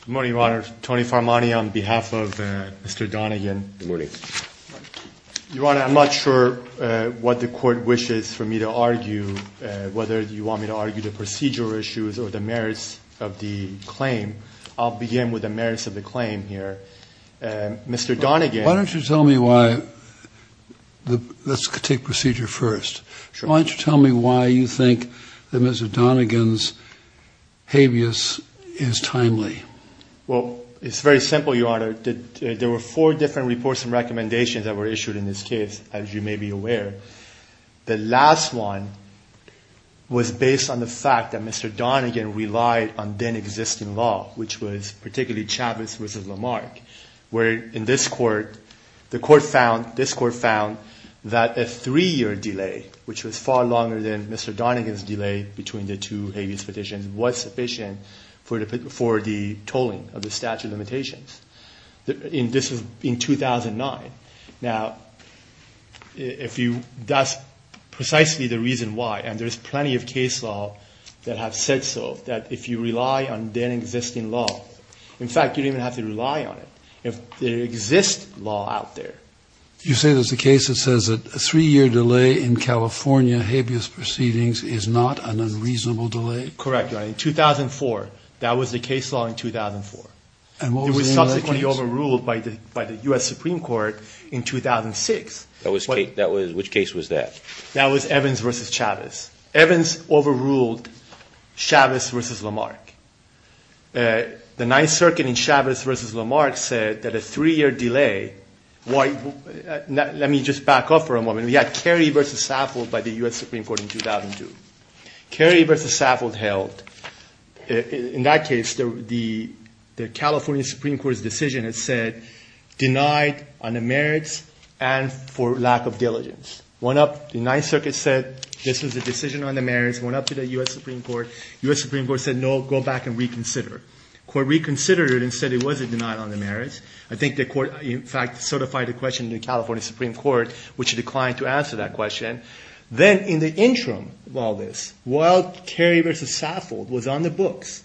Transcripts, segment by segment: Good morning, Your Honor. Tony Farmani on behalf of Mr. Dunigan. Good morning. Your Honor, I'm not sure what the court wishes for me to argue, whether you want me to argue the procedural issues or the merits of the claim. I'll begin with the merits of the claim here. Mr. Dunigan. Why don't you tell me why, let's take procedure first. Why don't you tell me why you think that Mr. Dunigan's habeas is timely? Well, it's very simple, Your Honor. There were four different reports and recommendations that were issued in this case, as you may be aware. The last one was based on the fact that Mr. Dunigan relied on then-existing law, which was particularly Chavez v. Lamarck, where in this court, the court found, this court found, that a three-year delay, which was far longer than Mr. Dunigan's delay between the two habeas petitions, was sufficient for the tolling of the statute limitations. This was in 2009. Now, if you, that's precisely the reason why, and there's plenty of case law that have said so, that if you rely on then-existing law, in fact, you don't even have to rely on it. If there exists law out there. You say there's a case that says that a three-year delay in California habeas proceedings is not an unreasonable delay? Correct, Your Honor. In 2004, that was the case law in 2004. And what was it in that case? It was subsequently overruled by the U.S. Supreme Court in 2006. That was, which case was that? That was Evans v. Chavez. Evans overruled Chavez v. Lamarck. The Ninth Circuit in Chavez v. Lamarck said that a three-year delay, why, let me just back up for 2002. Kerry v. Saffold held, in that case, the California Supreme Court's decision had said, denied on the merits and for lack of diligence. Went up, the Ninth Circuit said, this was a decision on the merits. Went up to the U.S. Supreme Court. U.S. Supreme Court said, no, go back and reconsider. Court reconsidered it and said it wasn't denied on the merits. I think the court, in fact, certified the question to the California Supreme Court, which declined to answer that question. Then in the interim of all this, while Kerry v. Saffold was on the books,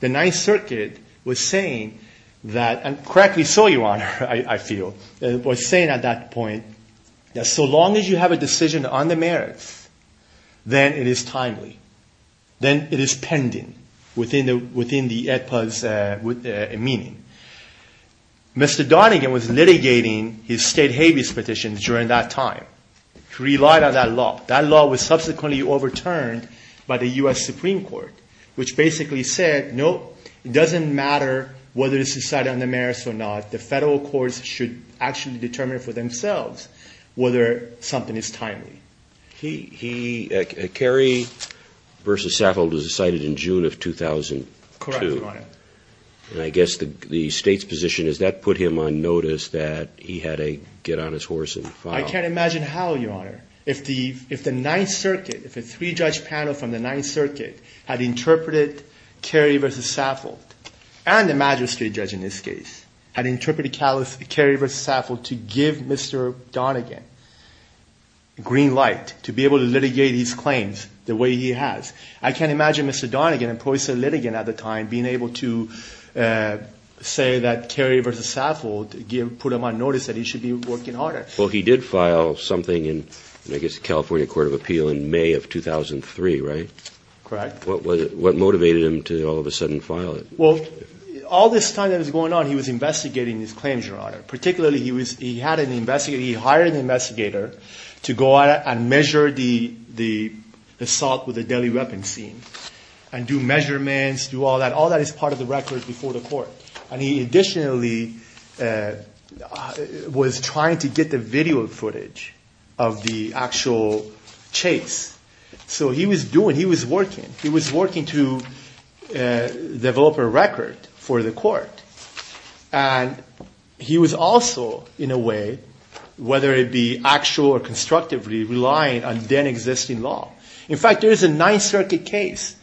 the Ninth Circuit was saying that, and correctly so, Your Honor, I feel, was saying at that point, that so long as you have a decision on the merits, then it is timely. Then it is pending within the meaning. Mr. Donegan was litigating his state habeas petition during that time. He relied on that law. That law was subsequently overturned by the U.S. Supreme Court, which basically said, no, it doesn't matter whether it's decided on the merits or not. The Federal courts should actually determine for themselves whether something is timely. He, he, Kerry v. Saffold was decided in June of 2002. Correct, Your Honor. And I guess the, the State's position is that put him on notice that he had a get on his horse and file. I can't imagine how, Your Honor, if the, if the Ninth Circuit, if a three-judge panel from the Ninth Circuit had interpreted Kerry v. Saffold, and the magistrate judge in this case, had interpreted Kerry v. Saffold to give Mr. Donegan green light to be able to litigate his claims the way he has. I can't imagine Mr. Donegan and Prosecutor Litigan at the time being able to say that Kerry v. Saffold put him on notice that he should be working harder. Well, he did file something in, I guess, the California Court of Appeal in May of 2003, right? Correct. What, what motivated him to all of a sudden file it? Well, all this time that was going on, he was investigating his claims, Your Honor. Particularly, he was, he had an investigator, he hired an investigator to go out and measure the, the assault with a deadly weapon scene and do measurements, do all that. All that is part of the record before the court. And he additionally was trying to get the video footage of the actual chase. So he was doing, he was working, he was working to develop a record for the court. And he was also, in a way, whether it be actual or constructively, relying on then existing law. In fact, there is a Ninth Circuit case,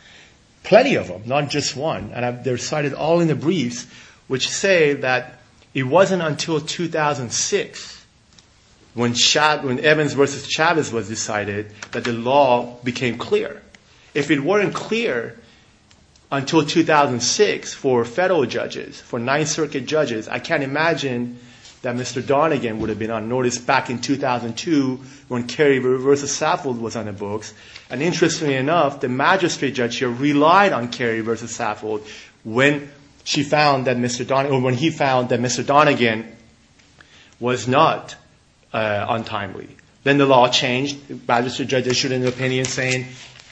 plenty of them, not just one, and they're cited all in the briefs, which say that it wasn't until 2006 when Evans versus Chavez was decided that the law became clear. If it weren't clear until 2006 for federal judges, for Ninth Circuit judges, I can't imagine that Mr. Donegan would have been on notice back in 2002 when Carey versus Saffold was on the books. And interestingly enough, the magistrate judge here relied on Carey versus Saffold when she found that Mr. Donegan, or when he found that Mr. Donegan was not untimely. Then the law changed. The magistrate judge issued an opinion saying,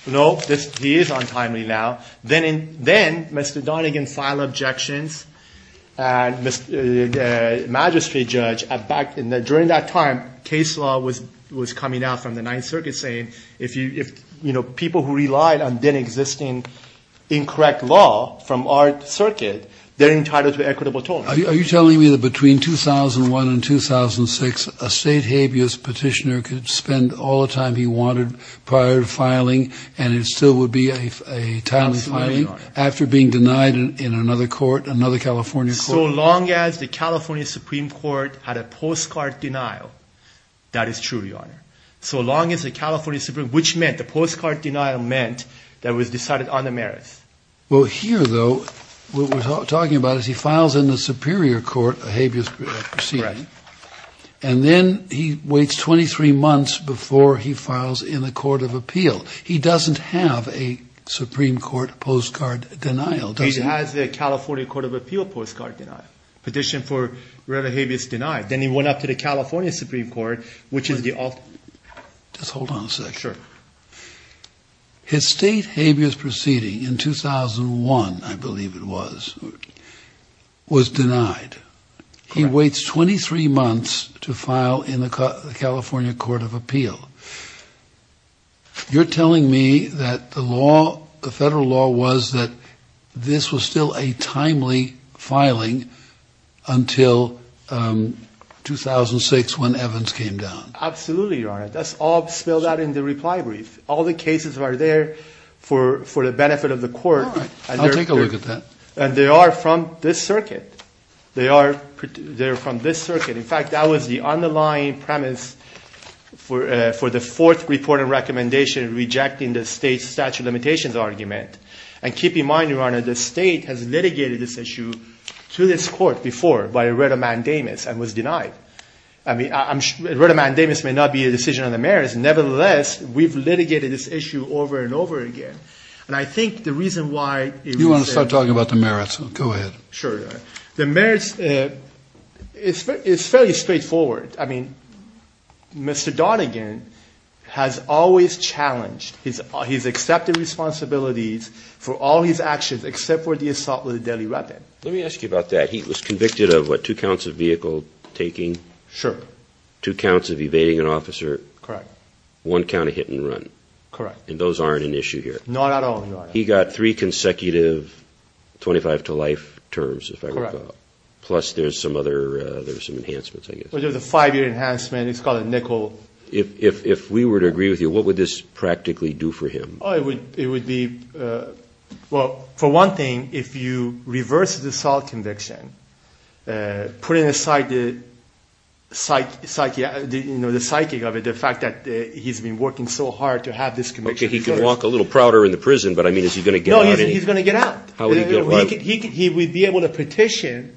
nope, he is untimely now. Then, then Mr. Donegan filed objections. And the magistrate judge, during that time, case law was, was coming out from the Ninth Circuit saying, if you, if, you know, people who relied on then existing incorrect law from our equitable tone. Are you telling me that between 2001 and 2006, a state habeas petitioner could spend all the time he wanted prior to filing, and it still would be a timely filing after being denied in another court, another California court? So long as the California Supreme Court had a postcard denial, that is true, Your Honor. So long as the California Supreme, which meant the postcard denial meant that was decided on the merits. Well, here though, what we're talking about is he files in the Superior Court a habeas proceeding, and then he waits 23 months before he files in the Court of Appeal. He doesn't have a Supreme Court postcard denial, does he? He has the California Court of Appeal postcard denial, petition for rare habeas denied. Then he went up to the California Supreme Court, which is the ultimate. Just hold on a second. Sure. His state habeas proceeding in 2001, I believe it was, was denied. He waits 23 months to file in the California Court of Appeal. You're Absolutely, Your Honor. That's all spelled out in the reply brief. All the cases are there for, for the benefit of the court. I'll take a look at that. And they are from this circuit. They are, they're from this circuit. In fact, that was the underlying premise for, for the fourth report and recommendation rejecting the state statute of limitations argument. And keep in mind, Your Honor, the state has litigated this issue to this court before by a writ of mandamus and was denied. I mean, I'm sure, a writ of mandamus may not be a decision on the merits. Nevertheless, we've litigated this issue over and over again. And I think the reason why... You want to start talking about the merits. Go ahead. Sure, Your Honor. The merits, it's fairly straightforward. I mean, Mr. Donegan has always challenged his, his accepted responsibilities for all his actions, except for the assault with a deadly weapon. Let me ask you about that. He was convicted of, what, two counts of vehicle taking? Sure. Two counts of evading an officer? Correct. One count of hit and run? Correct. And those aren't an issue here? Not at all, Your Honor. He got three consecutive 25-to-life terms, if I recall. Correct. Plus there's some other, there's some enhancements, I guess. Well, there's a five-year enhancement. It's called a nickel. If, if, if we were to agree with you, what would this conviction, putting aside the psyche, you know, the psychic of it, the fact that he's been working so hard to have this conviction... He could walk a little prouder in the prison, but I mean, is he going to get out? No, he's going to get out. How would he get out? He would be able to petition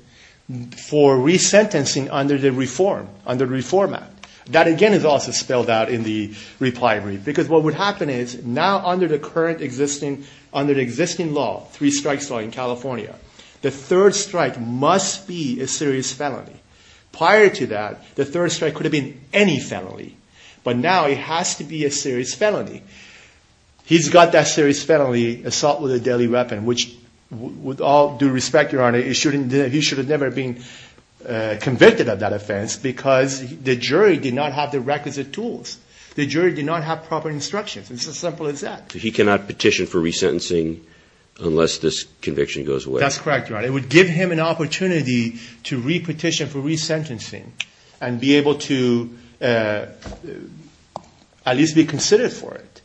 for resentencing under the reform, under the Reform Act. That again is also spelled out in the reply brief. Because what would happen is, now under the current existing, under the existing law, three strikes law in this country, a third strike must be a serious felony. Prior to that, the third strike could have been any felony. But now it has to be a serious felony. He's got that serious felony, assault with a deadly weapon, which with all due respect, Your Honor, he shouldn't, he should have never been convicted of that offense because the jury did not have the requisite tools. The jury did not have proper instructions. It's as simple as that. He cannot petition for resentencing unless this conviction goes away? That's correct, Your Honor. It would give him an opportunity to re-petition for resentencing and be able to at least be considered for it.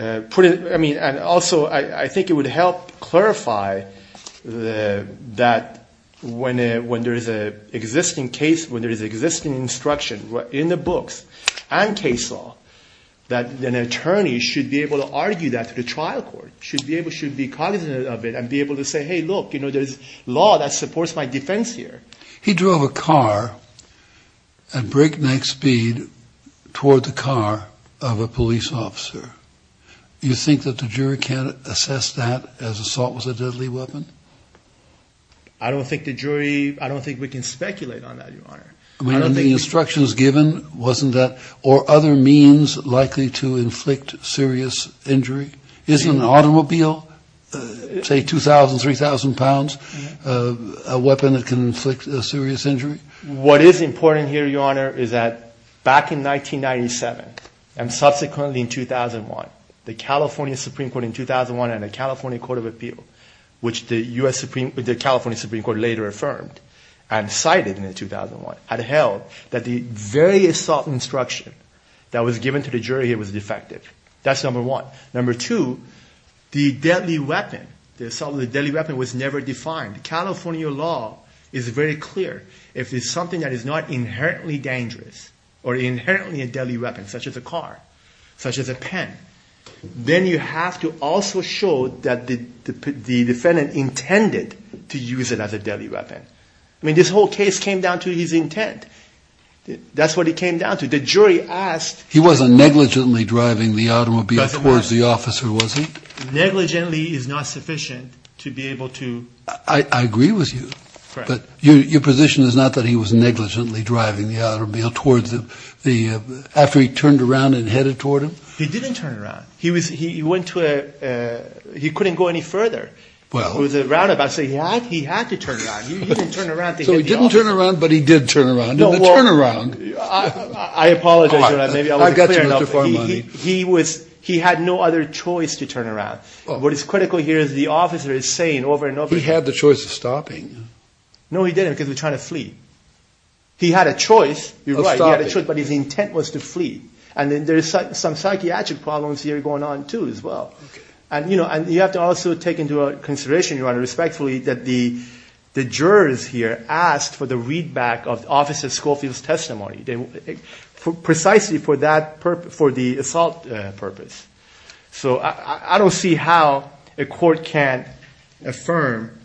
I mean, and also I think it would help clarify that when there is an existing case, when there is existing instruction in the books and case law, that an attorney should be able to argue that to the trial court, should be able, should be cognizant of it and be able to say, hey, look, you know, there's law that supports my defense here. He drove a car at breakneck speed toward the car of a police officer. You think that the jury can't assess that as assault with a deadly weapon? I don't think the jury, I don't think we can speculate on that, Your Honor. I mean, the instructions given wasn't that or was there other means likely to inflict serious injury? Isn't an automobile, say 2,000, 3,000 pounds, a weapon that can inflict serious injury? What is important here, Your Honor, is that back in 1997 and subsequently in 2001, the California Supreme Court in 2001 and the California that was given to the jury, it was defective. That's number one. Number two, the deadly weapon, the assault with a deadly weapon was never defined. California law is very clear. If it's something that is not inherently dangerous or inherently a deadly weapon, such as a car, such as a pen, then you have to also show that the defendant intended to use it as a deadly weapon. I mean, this whole case came down to his intent. That's what it came down to. The jury asked... He wasn't negligently driving the automobile towards the officer, was he? Negligently is not sufficient to be able to... I agree with you. But your position is not that he was negligently driving the automobile towards the, after he turned around and headed toward him? He didn't turn around. He was, he went to a, he couldn't go any further. Well... It was a roundabout, so he had to turn around. He didn't turn around to hit the officer. I apologize, Your Honor, maybe I wasn't clear enough. He was, he had no other choice to turn around. What is critical here is the officer is saying over and over... He had the choice of stopping. No, he didn't, because he was trying to flee. He had a choice, you're right, he had a choice, but his intent was to flee. And then there's some psychiatric problems here going on too as well. And you know, you have to also take into consideration, Your Honor, respectfully, that the jurors here asked for the readback of Officer Schofield's testimony, precisely for that purpose, for the assault purpose. So I don't see how a court can't affirm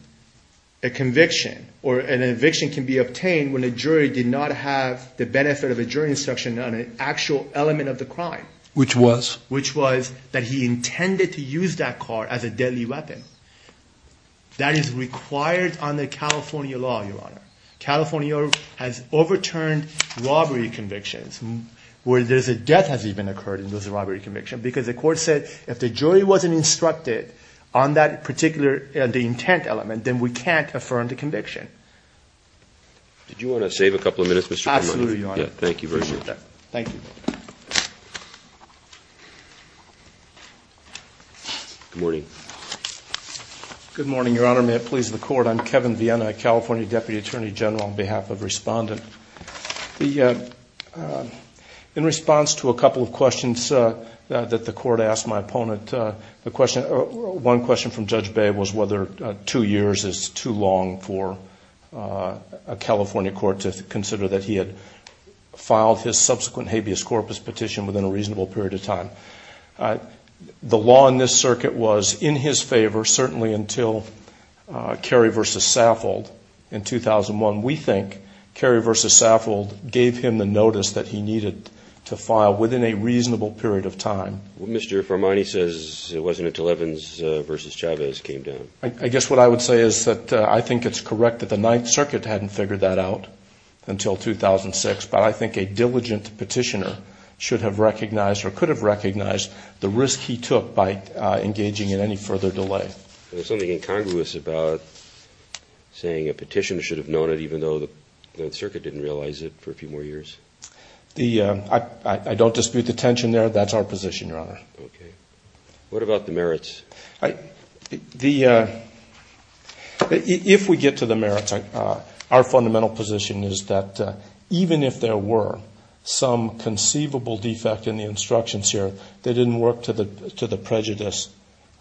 a conviction or an eviction can be obtained when a jury did not have the benefit of a jury instruction on an actual element of the crime. Which was? Which was that he intended to use that car as a deadly weapon. That is required under California law, Your Honor. California has overturned robbery convictions, where there's a death has even occurred in those robbery convictions, because the court said, if the jury wasn't instructed on that particular, the intent element, then we can't affirm the conviction. Did you want to save a couple of minutes, Mr. Piemonte? Absolutely, Your Honor. Thank you very much. Thank you. Good morning. Good morning, Your Honor. May it please the court, I'm Kevin Viena, California Deputy Attorney General on behalf of Respondent. In response to a couple of questions that the court asked my opponent, one question from Judge Bay was whether two years is too long for a California court to consider that he had filed his subsequent habeas corpus petition within a reasonable period of time. The law in this circuit was in his favor, certainly until Carey v. Saffold in 2001. We think Carey v. Saffold gave him the notice that he needed to file within a reasonable period of time. Mr. Formani says it wasn't until Evans v. Chavez came down. I guess what I would say is that I think it's correct that the Ninth Circuit hadn't figured that out until 2006, but I think a diligent petitioner should have recognized or could have recognized the risk he took by engaging in any further delay. There's something incongruous about saying a petitioner should have known it even though the Circuit didn't realize it for a few more years. I don't dispute the tension there. That's our position, Your Honor. Okay. What about the merits? If we get to the merits, our fundamental position is that even if there were some conceivable defect in the instructions here, they didn't work to the prejudice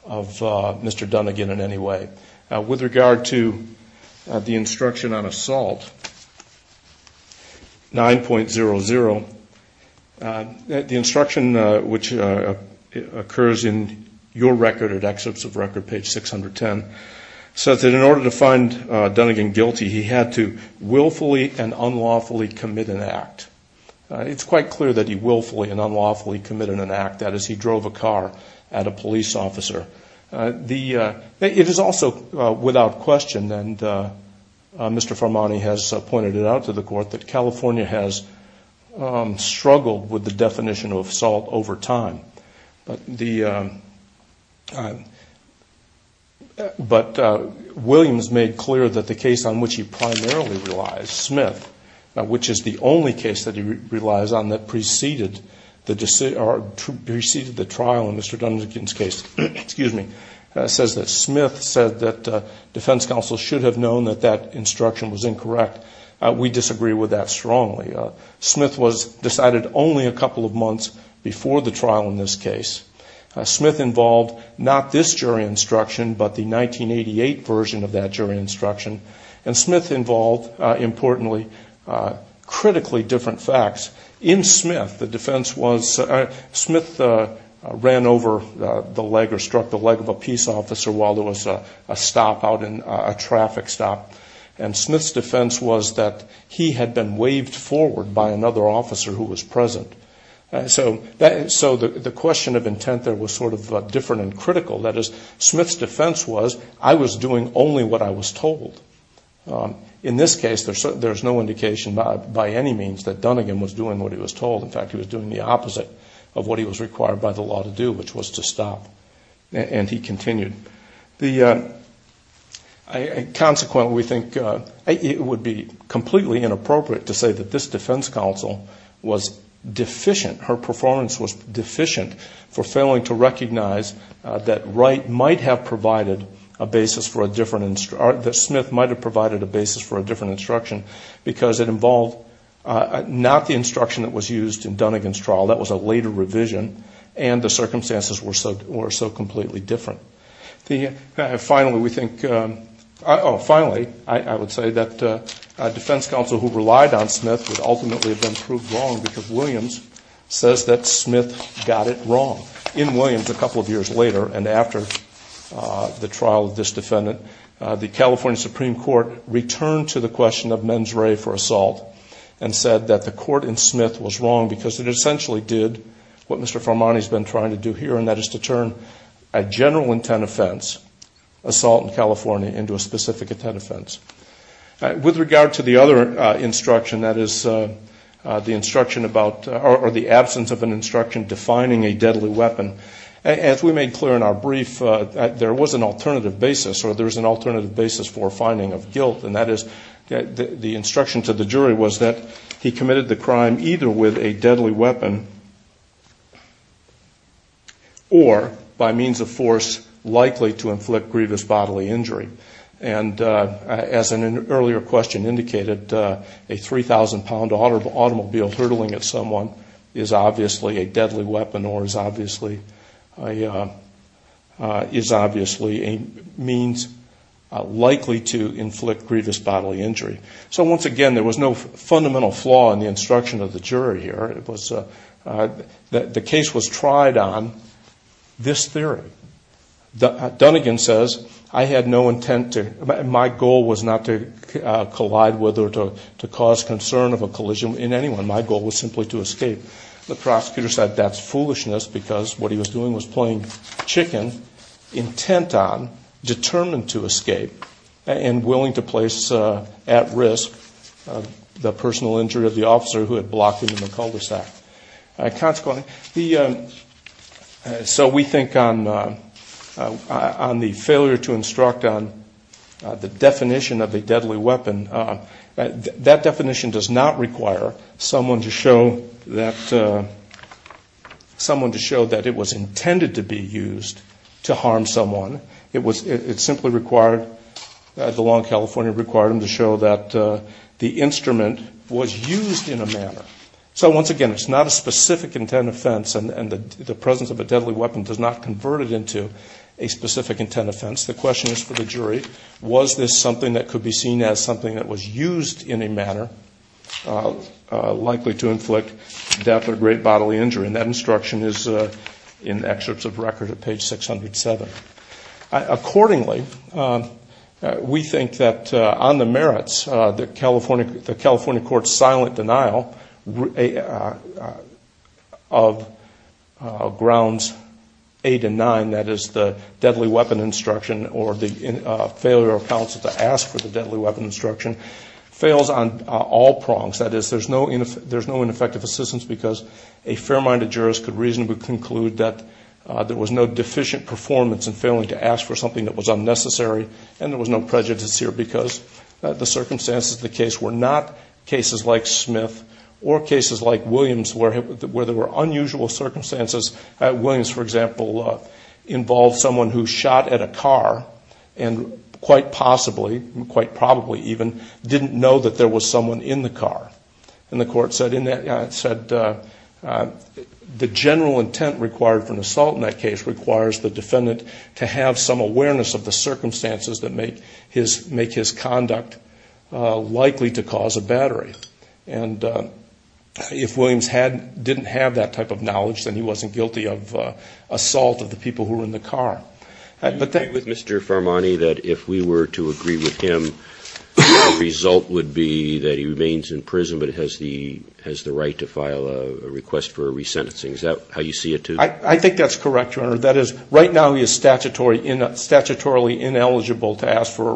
of Mr. Dunnegan in any way. With regard to the instruction on assault, 9.00, the instruction which occurs in your record at Excerpts of Record, page 610, says that in order to find Dunnegan guilty, he had to willfully and unlawfully commit an act. It's quite clear that he willfully and unlawfully committed an act. That is, he drove a car at a police officer. It is also without question, and Mr. Farmani has pointed it out to the Court, that California has struggled with the definition of assault over time. But Williams made clear that the case on which he primarily relies, Smith, which is the only case that he relies on that preceded the trial in Mr. Dunnegan's case, says that Smith said that defense counsel should have known that that instruction was incorrect. We disagree with that strongly. Smith was decided only a couple of months before the trial in this case. Smith involved not this jury instruction, but the 1988 version of that jury instruction. And Smith involved, importantly, critically different facts. In Smith, the defense was Smith ran over the leg or struck the leg of a peace officer while there was a stop out in a traffic stop. And Smith's defense was that he had been waved forward by another officer who was present. So the question of intent there was sort of different and critical. That is, Smith's defense was, I was doing only what I was told. In this case, there's no indication by any means that Dunnegan was doing what he was told. In fact, he was doing the opposite of what he was required by the law to do, which was to stop. And he continued. Consequently, we think it would be completely inappropriate to say that this defense counsel was deficient. Her performance was deficient for failing to recognize that Wright might have provided a basis for a different, that Smith might have provided a basis for a different instruction because it involved not the instruction that was used in Dunnegan's trial. That was a later revision, and the circumstances were so completely different. Finally, we think, oh, finally, I would say that a defense counsel who relied on Smith would ultimately have been proved wrong because Williams says that Smith got it wrong. In Williams, a couple of years later and after the trial of this defendant, the California Supreme Court returned to the question of mens re for assault and said that the court in Smith was wrong because it essentially did what Mr. Farmani has been trying to do here, and that is to turn a general intent offense, assault in California, into a specific intent offense. With regard to the other instruction, that is the instruction about, or the absence of an instruction defining a deadly weapon, as we made clear in our brief, there was an alternative basis, or there's an alternative basis for finding of guilt, and that is the instruction to the jury was that he committed the crime either with a deadly weapon or by means of force likely to inflict grievous bodily injury. And as an earlier question indicated, a 3,000-pound automobile hurtling at someone is obviously a deadly weapon or is obviously a means likely to inflict grievous bodily injury. So once again, there was no fundamental flaw in the instruction of the jury here. The case was tried on this theory. Dunnegan says, my goal was not to collide with or to cause concern of a collision in anyone. My goal was simply to escape. The prosecutor said that's foolishness because what he was doing was playing chicken, intent on, determined to escape, and willing to place at risk the personal injury of the officer who had blocked him in the cul-de-sac. Consequently, so we think on the failure to instruct on the definition of a deadly weapon, that definition does not require someone to show that it was intended to be used to harm someone. It simply required, the law in California required them to show that the instrument was used in a manner. So once again, it's not a specific intent offense, and the presence of a deadly weapon does not convert it into a specific intent offense. The question is for the jury, was this something that could be seen as something that was used in a manner likely to inflict death or great bodily injury, and that instruction is in the excerpts of record at page 607. Accordingly, we think that on the merits, the California court's silent denial of Grounds 8 and 9, that is the deadly weapon instruction or the failure of counsel to ask for the deadly weapon instruction, fails on all prongs. That is, there's no ineffective assistance because a fair-minded jurist could reasonably conclude that there was no deficient performance in failing to ask for something that was unnecessary, and there was no prejudice here because the circumstances of the case were not cases like Smith or cases like Williams where there were unusual circumstances. Williams, for example, involved someone who shot at a car and quite possibly, quite probably even, didn't know that there was someone in the car. And the court said the general intent required for an assault in that case requires the defendant to have some awareness of the circumstances that make his conduct likely to cause a battery. And if Williams didn't have that type of knowledge, then he wasn't guilty of assault of the people who were in the car. But that was Mr. Farmani that if we were to agree with him, the result would be that he remains in prison but has the right to file a request for a resentencing. Is that how you see it, too? I think that's correct, Your Honor. That is, right now he is statutorily ineligible to ask for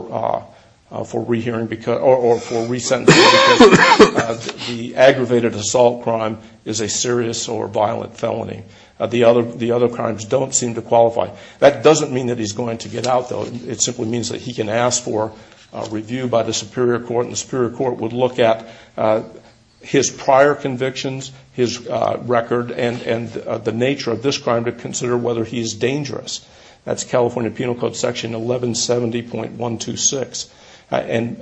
a rehearing or for a resentencing because the aggravated assault crime is a serious or violent felony. The other crimes don't seem to qualify. That doesn't mean that he's going to get out, though. It simply means that he can ask for a review by the superior court, and the superior court would look at his prior convictions, his record, and the nature of this crime to consider whether he's dangerous. That's California Penal Code Section 1170.126. And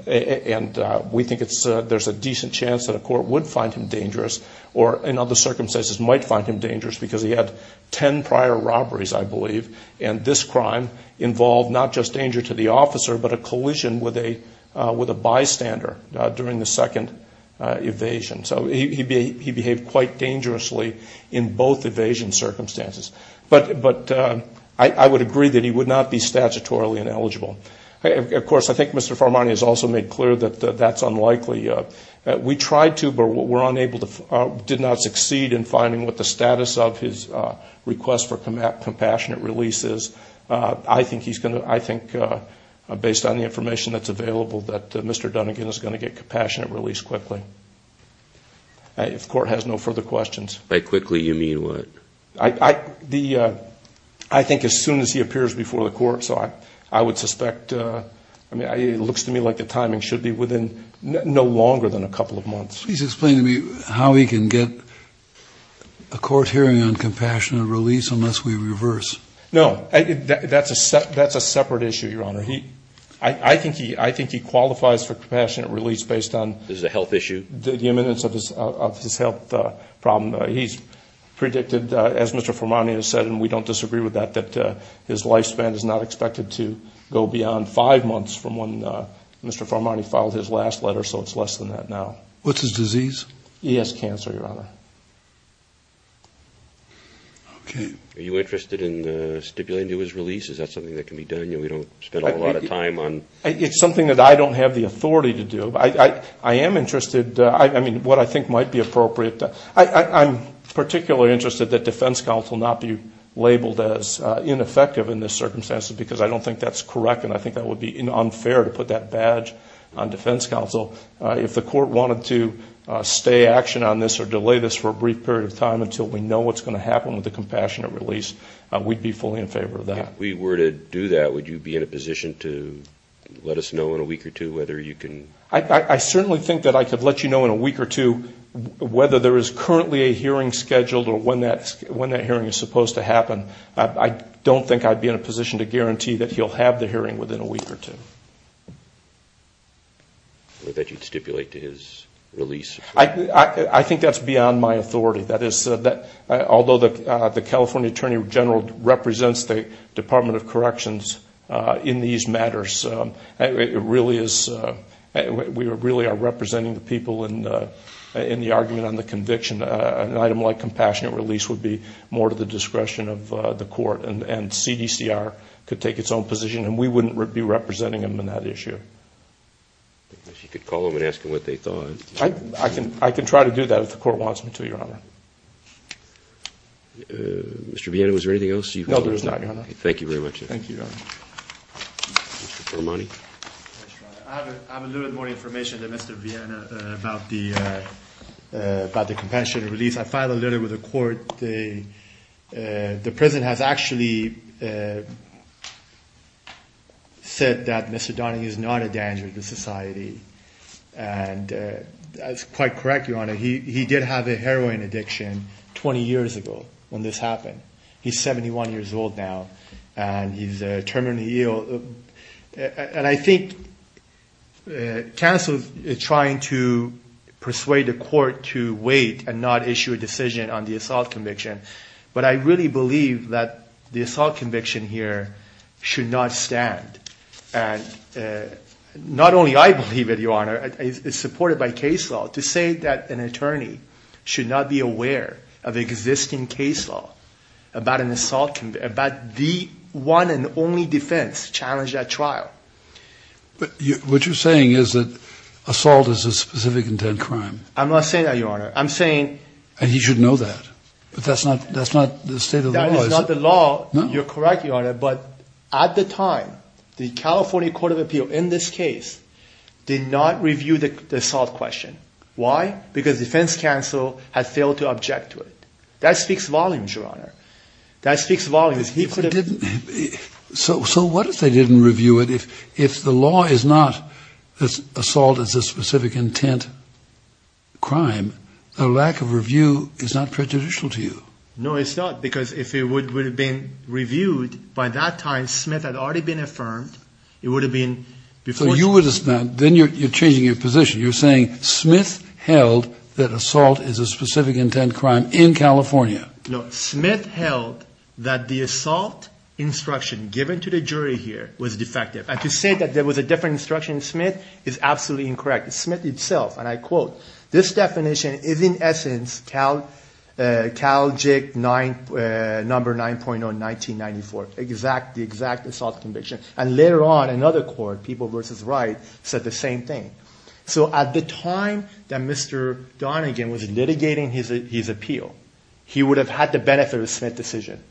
we think there's a decent chance that a court would find him dangerous or in other circumstances might find him dangerous because he had 10 prior robberies, I believe, and this crime involved not just danger to the officer but a collision with a bystander during the second evasion. So he behaved quite dangerously in both evasion circumstances. But I would agree that he would not be statutorily ineligible. Of course, I think Mr. Farmani has also made clear that that's unlikely. We tried to but were unable to, did not succeed in finding what the status of his request for compassionate release is. I think based on the information that's available that Mr. Dunnigan is going to get compassionate release quickly. If court has no further questions. By quickly, you mean what? I think as soon as he appears before the court. So I would suspect, it looks to me like the timing should be within no longer than a couple of months. Please explain to me how he can get a court hearing on compassionate release unless we reverse. No, that's a separate issue, Your Honor. I think he qualifies for compassionate release based on. Is it a health issue? The imminence of his health problem. He's predicted, as Mr. Farmani has said, and we don't disagree with that, that his lifespan is not expected to go beyond five months from when Mr. Farmani filed his last letter. So it's less than that now. What's his disease? He has cancer, Your Honor. Okay. Are you interested in stipulating to his release? Is that something that can be done? We don't spend a whole lot of time on. It's something that I don't have the authority to do. I am interested, I mean, what I think might be appropriate. I'm particularly interested that defense counsel not be labeled as ineffective in this circumstance because I don't think that's correct and I think that would be unfair to put that badge on defense counsel. If the court wanted to stay action on this or delay this for a brief period of time until we know what's going to happen with the compassionate release, we'd be fully in favor of that. If we were to do that, would you be in a position to let us know in a week or two whether you can? I certainly think that I could let you know in a week or two whether there is currently a hearing scheduled or when that hearing is supposed to happen. I don't think I'd be in a position to guarantee that he'll have the hearing within a week or two. Or that you'd stipulate to his release? I think that's beyond my authority. Although the California Attorney General represents the Department of Corrections in these matters, we really are representing the people in the argument on the conviction. An item like compassionate release would be more to the discretion of the court and CDCR could take its own position and we wouldn't be representing them on that issue. If you could call them and ask them what they thought. I can try to do that if the court wants me to, Your Honor. Mr. Viena, was there anything else you wanted to say? No, there was not, Your Honor. Thank you very much. Thank you, Your Honor. Mr. Paramani? I have a little bit more information than Mr. Viena about the compassionate release. I filed a letter with the court. The president has actually said that Mr. Donahue is not a danger to society. And that's quite correct, Your Honor. He did have a heroin addiction 20 years ago when this happened. He's 71 years old now and he's terminally ill. And I think counsel is trying to persuade the court to wait and not issue a decision on the assault conviction. But I really believe that the assault conviction here should not stand. And not only I believe it, Your Honor. It's supported by case law. To say that an attorney should not be aware of existing case law about the one and only defense challenged at trial. But what you're saying is that assault is a specific intent crime. I'm not saying that, Your Honor. I'm saying... And he should know that. But that's not the state of the law, is it? That is not the law. You're correct, Your Honor. But at the time, the California Court of Appeals, in this case, did not review the assault question. Why? Because defense counsel has failed to object to it. That speaks volumes, Your Honor. That speaks volumes. So what if they didn't review it? If the law is not assault is a specific intent crime, a lack of review is not prejudicial to you. No, it's not. Because if it would have been reviewed by that time, Smith had already been affirmed. It would have been before... Then you're changing your position. You're saying Smith held that assault is a specific intent crime in California. No. Smith held that the assault instruction given to the jury here was defective. And to say that there was a different instruction in Smith is absolutely incorrect. Smith itself, and I quote, this definition is in essence Cal JIC number 9.0 1994, the exact assault conviction. And later on, another court, People v. Wright, said the same thing. So at the time that Mr. Donegan was litigating his appeal, he would have had the benefit of a Smith decision.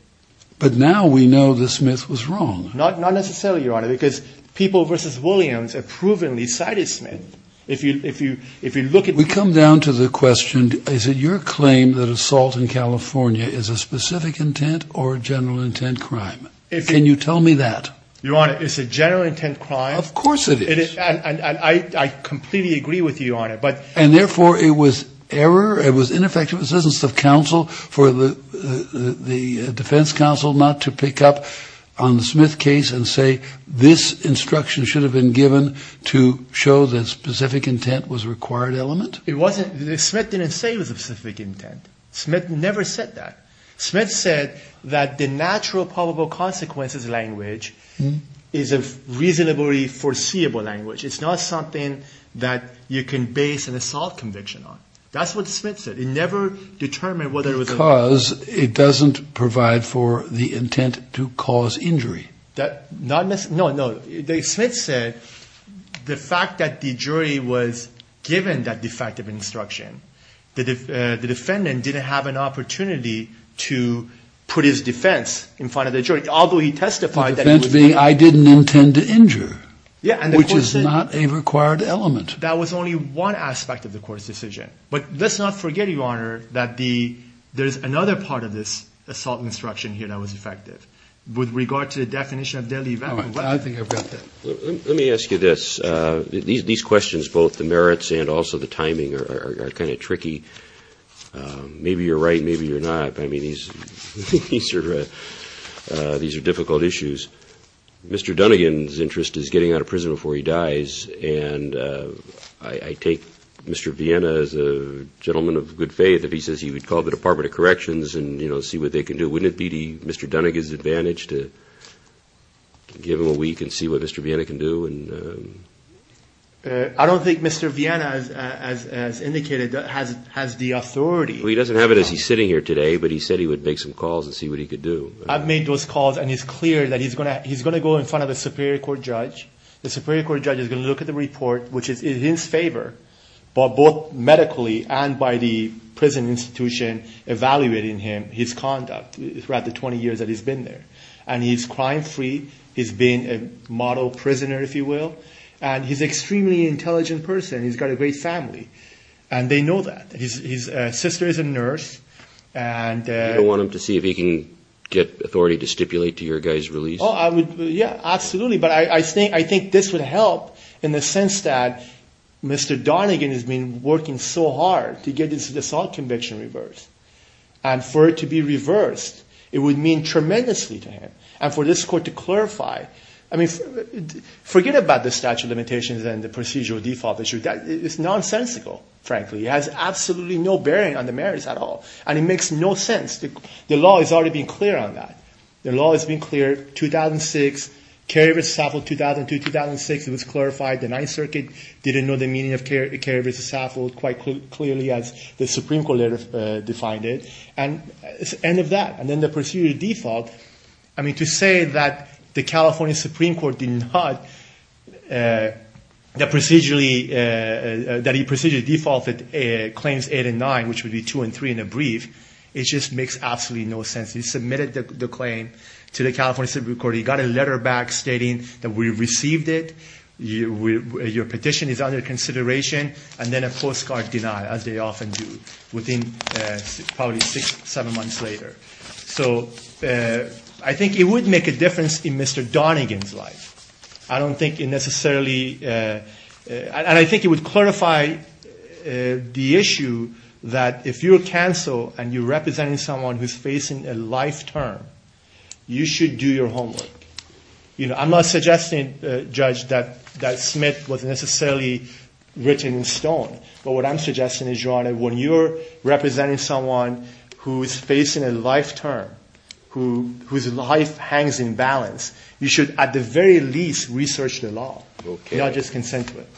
But now we know that Smith was wrong. Not necessarily, Your Honor, because People v. Williams approvingly cited Smith. If you look at... We come down to the question, is it your claim that assault in California is a specific intent or a general intent crime? Can you tell me that? Your Honor, it's a general intent crime. Of course it is. And I completely agree with you, Your Honor. And therefore it was error, it was ineffective assistance of counsel for the defense counsel not to pick up on the Smith case and say this instruction should have been given to show that specific intent was a required element? It wasn't. Smith didn't say it was a specific intent. Smith never said that. Smith said that the natural probable consequences language is a reasonably foreseeable language. It's not something that you can base an assault conviction on. That's what Smith said. It never determined whether it was... Because it doesn't provide for the intent to cause injury. No, no. Smith said the fact that the jury was given that defective instruction, the defendant didn't have an opportunity to put his defense in front of the jury, although he testified that... The defense being I didn't intend to injure. Yeah. Which is not a required element. That was only one aspect of the court's decision. But let's not forget, Your Honor, that there's another part of this assault instruction here that was effective. With regard to the definition of deadly event... All right. I think I've got that. Let me ask you this. These questions, both the merits and also the timing, are kind of tricky. Maybe you're right, maybe you're not. I mean, these are difficult issues. Mr. Dunnigan's interest is getting out of prison before he dies, and I take Mr. Vienna as a gentleman of good faith if he says he would call the Department of Corrections and, you know, see what they can do. Wouldn't it be Mr. Dunnigan's advantage to give him a week and see what Mr. Vienna can do I don't think Mr. Vienna, as indicated, has the authority. Well, he doesn't have it as he's sitting here today, but he said he would make some calls and see what he could do. I've made those calls, and it's clear that he's going to go in front of a Superior Court judge. The Superior Court judge is going to look at the report, which is in his favor, but both medically and by the prison institution evaluating him, his conduct, throughout the 20 years that he's been there. And he's crime-free. He's been a model prisoner, if you will. And he's an extremely intelligent person. He's got a great family, and they know that. His sister is a nurse. Do you want him to see if he can get authority to stipulate to your guy's release? Oh, I would, yeah, absolutely. But I think this would help in the sense that Mr. Dunnigan has been working so hard to get this assault conviction reversed. And for it to be reversed, it would mean tremendously to him. And for this court to clarify, I mean, forget about the statute of limitations and the procedural default issue. It's nonsensical, frankly. It has absolutely no bearing on the merits at all, and it makes no sense. The law has already been clear on that. The law has been clear. 2006, Kerry v. Saffold, 2002, 2006, it was clarified. The Ninth Circuit didn't know the meaning of Kerry v. Saffold quite clearly as the Supreme Court had defined it. And it's the end of that. And then the procedural default, I mean, to say that the California Supreme Court did not, that procedurally, that he procedurally defaulted claims 8 and 9, which would be 2 and 3 in a brief, it just makes absolutely no sense. He submitted the claim to the California Supreme Court. He got a letter back stating that we received it, your petition is under consideration, and then a postcard denial, as they often do, within probably six, seven months later. So I think it would make a difference in Mr. Donegan's life. I don't think it necessarily, and I think it would clarify the issue that if you're a counsel and you're representing someone who's facing a life term, you should do your homework. You know, I'm not suggesting, Judge, that Smith was necessarily written in stone, but what I'm suggesting is, Your Honor, when you're representing someone who is facing a life term, whose life hangs in balance, you should at the very least research the law, not just consent to it.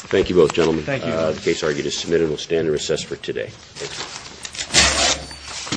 Okay. Thank you both, gentlemen. Thank you. The case argued is submitted. It will stand in recess for today. Thank you.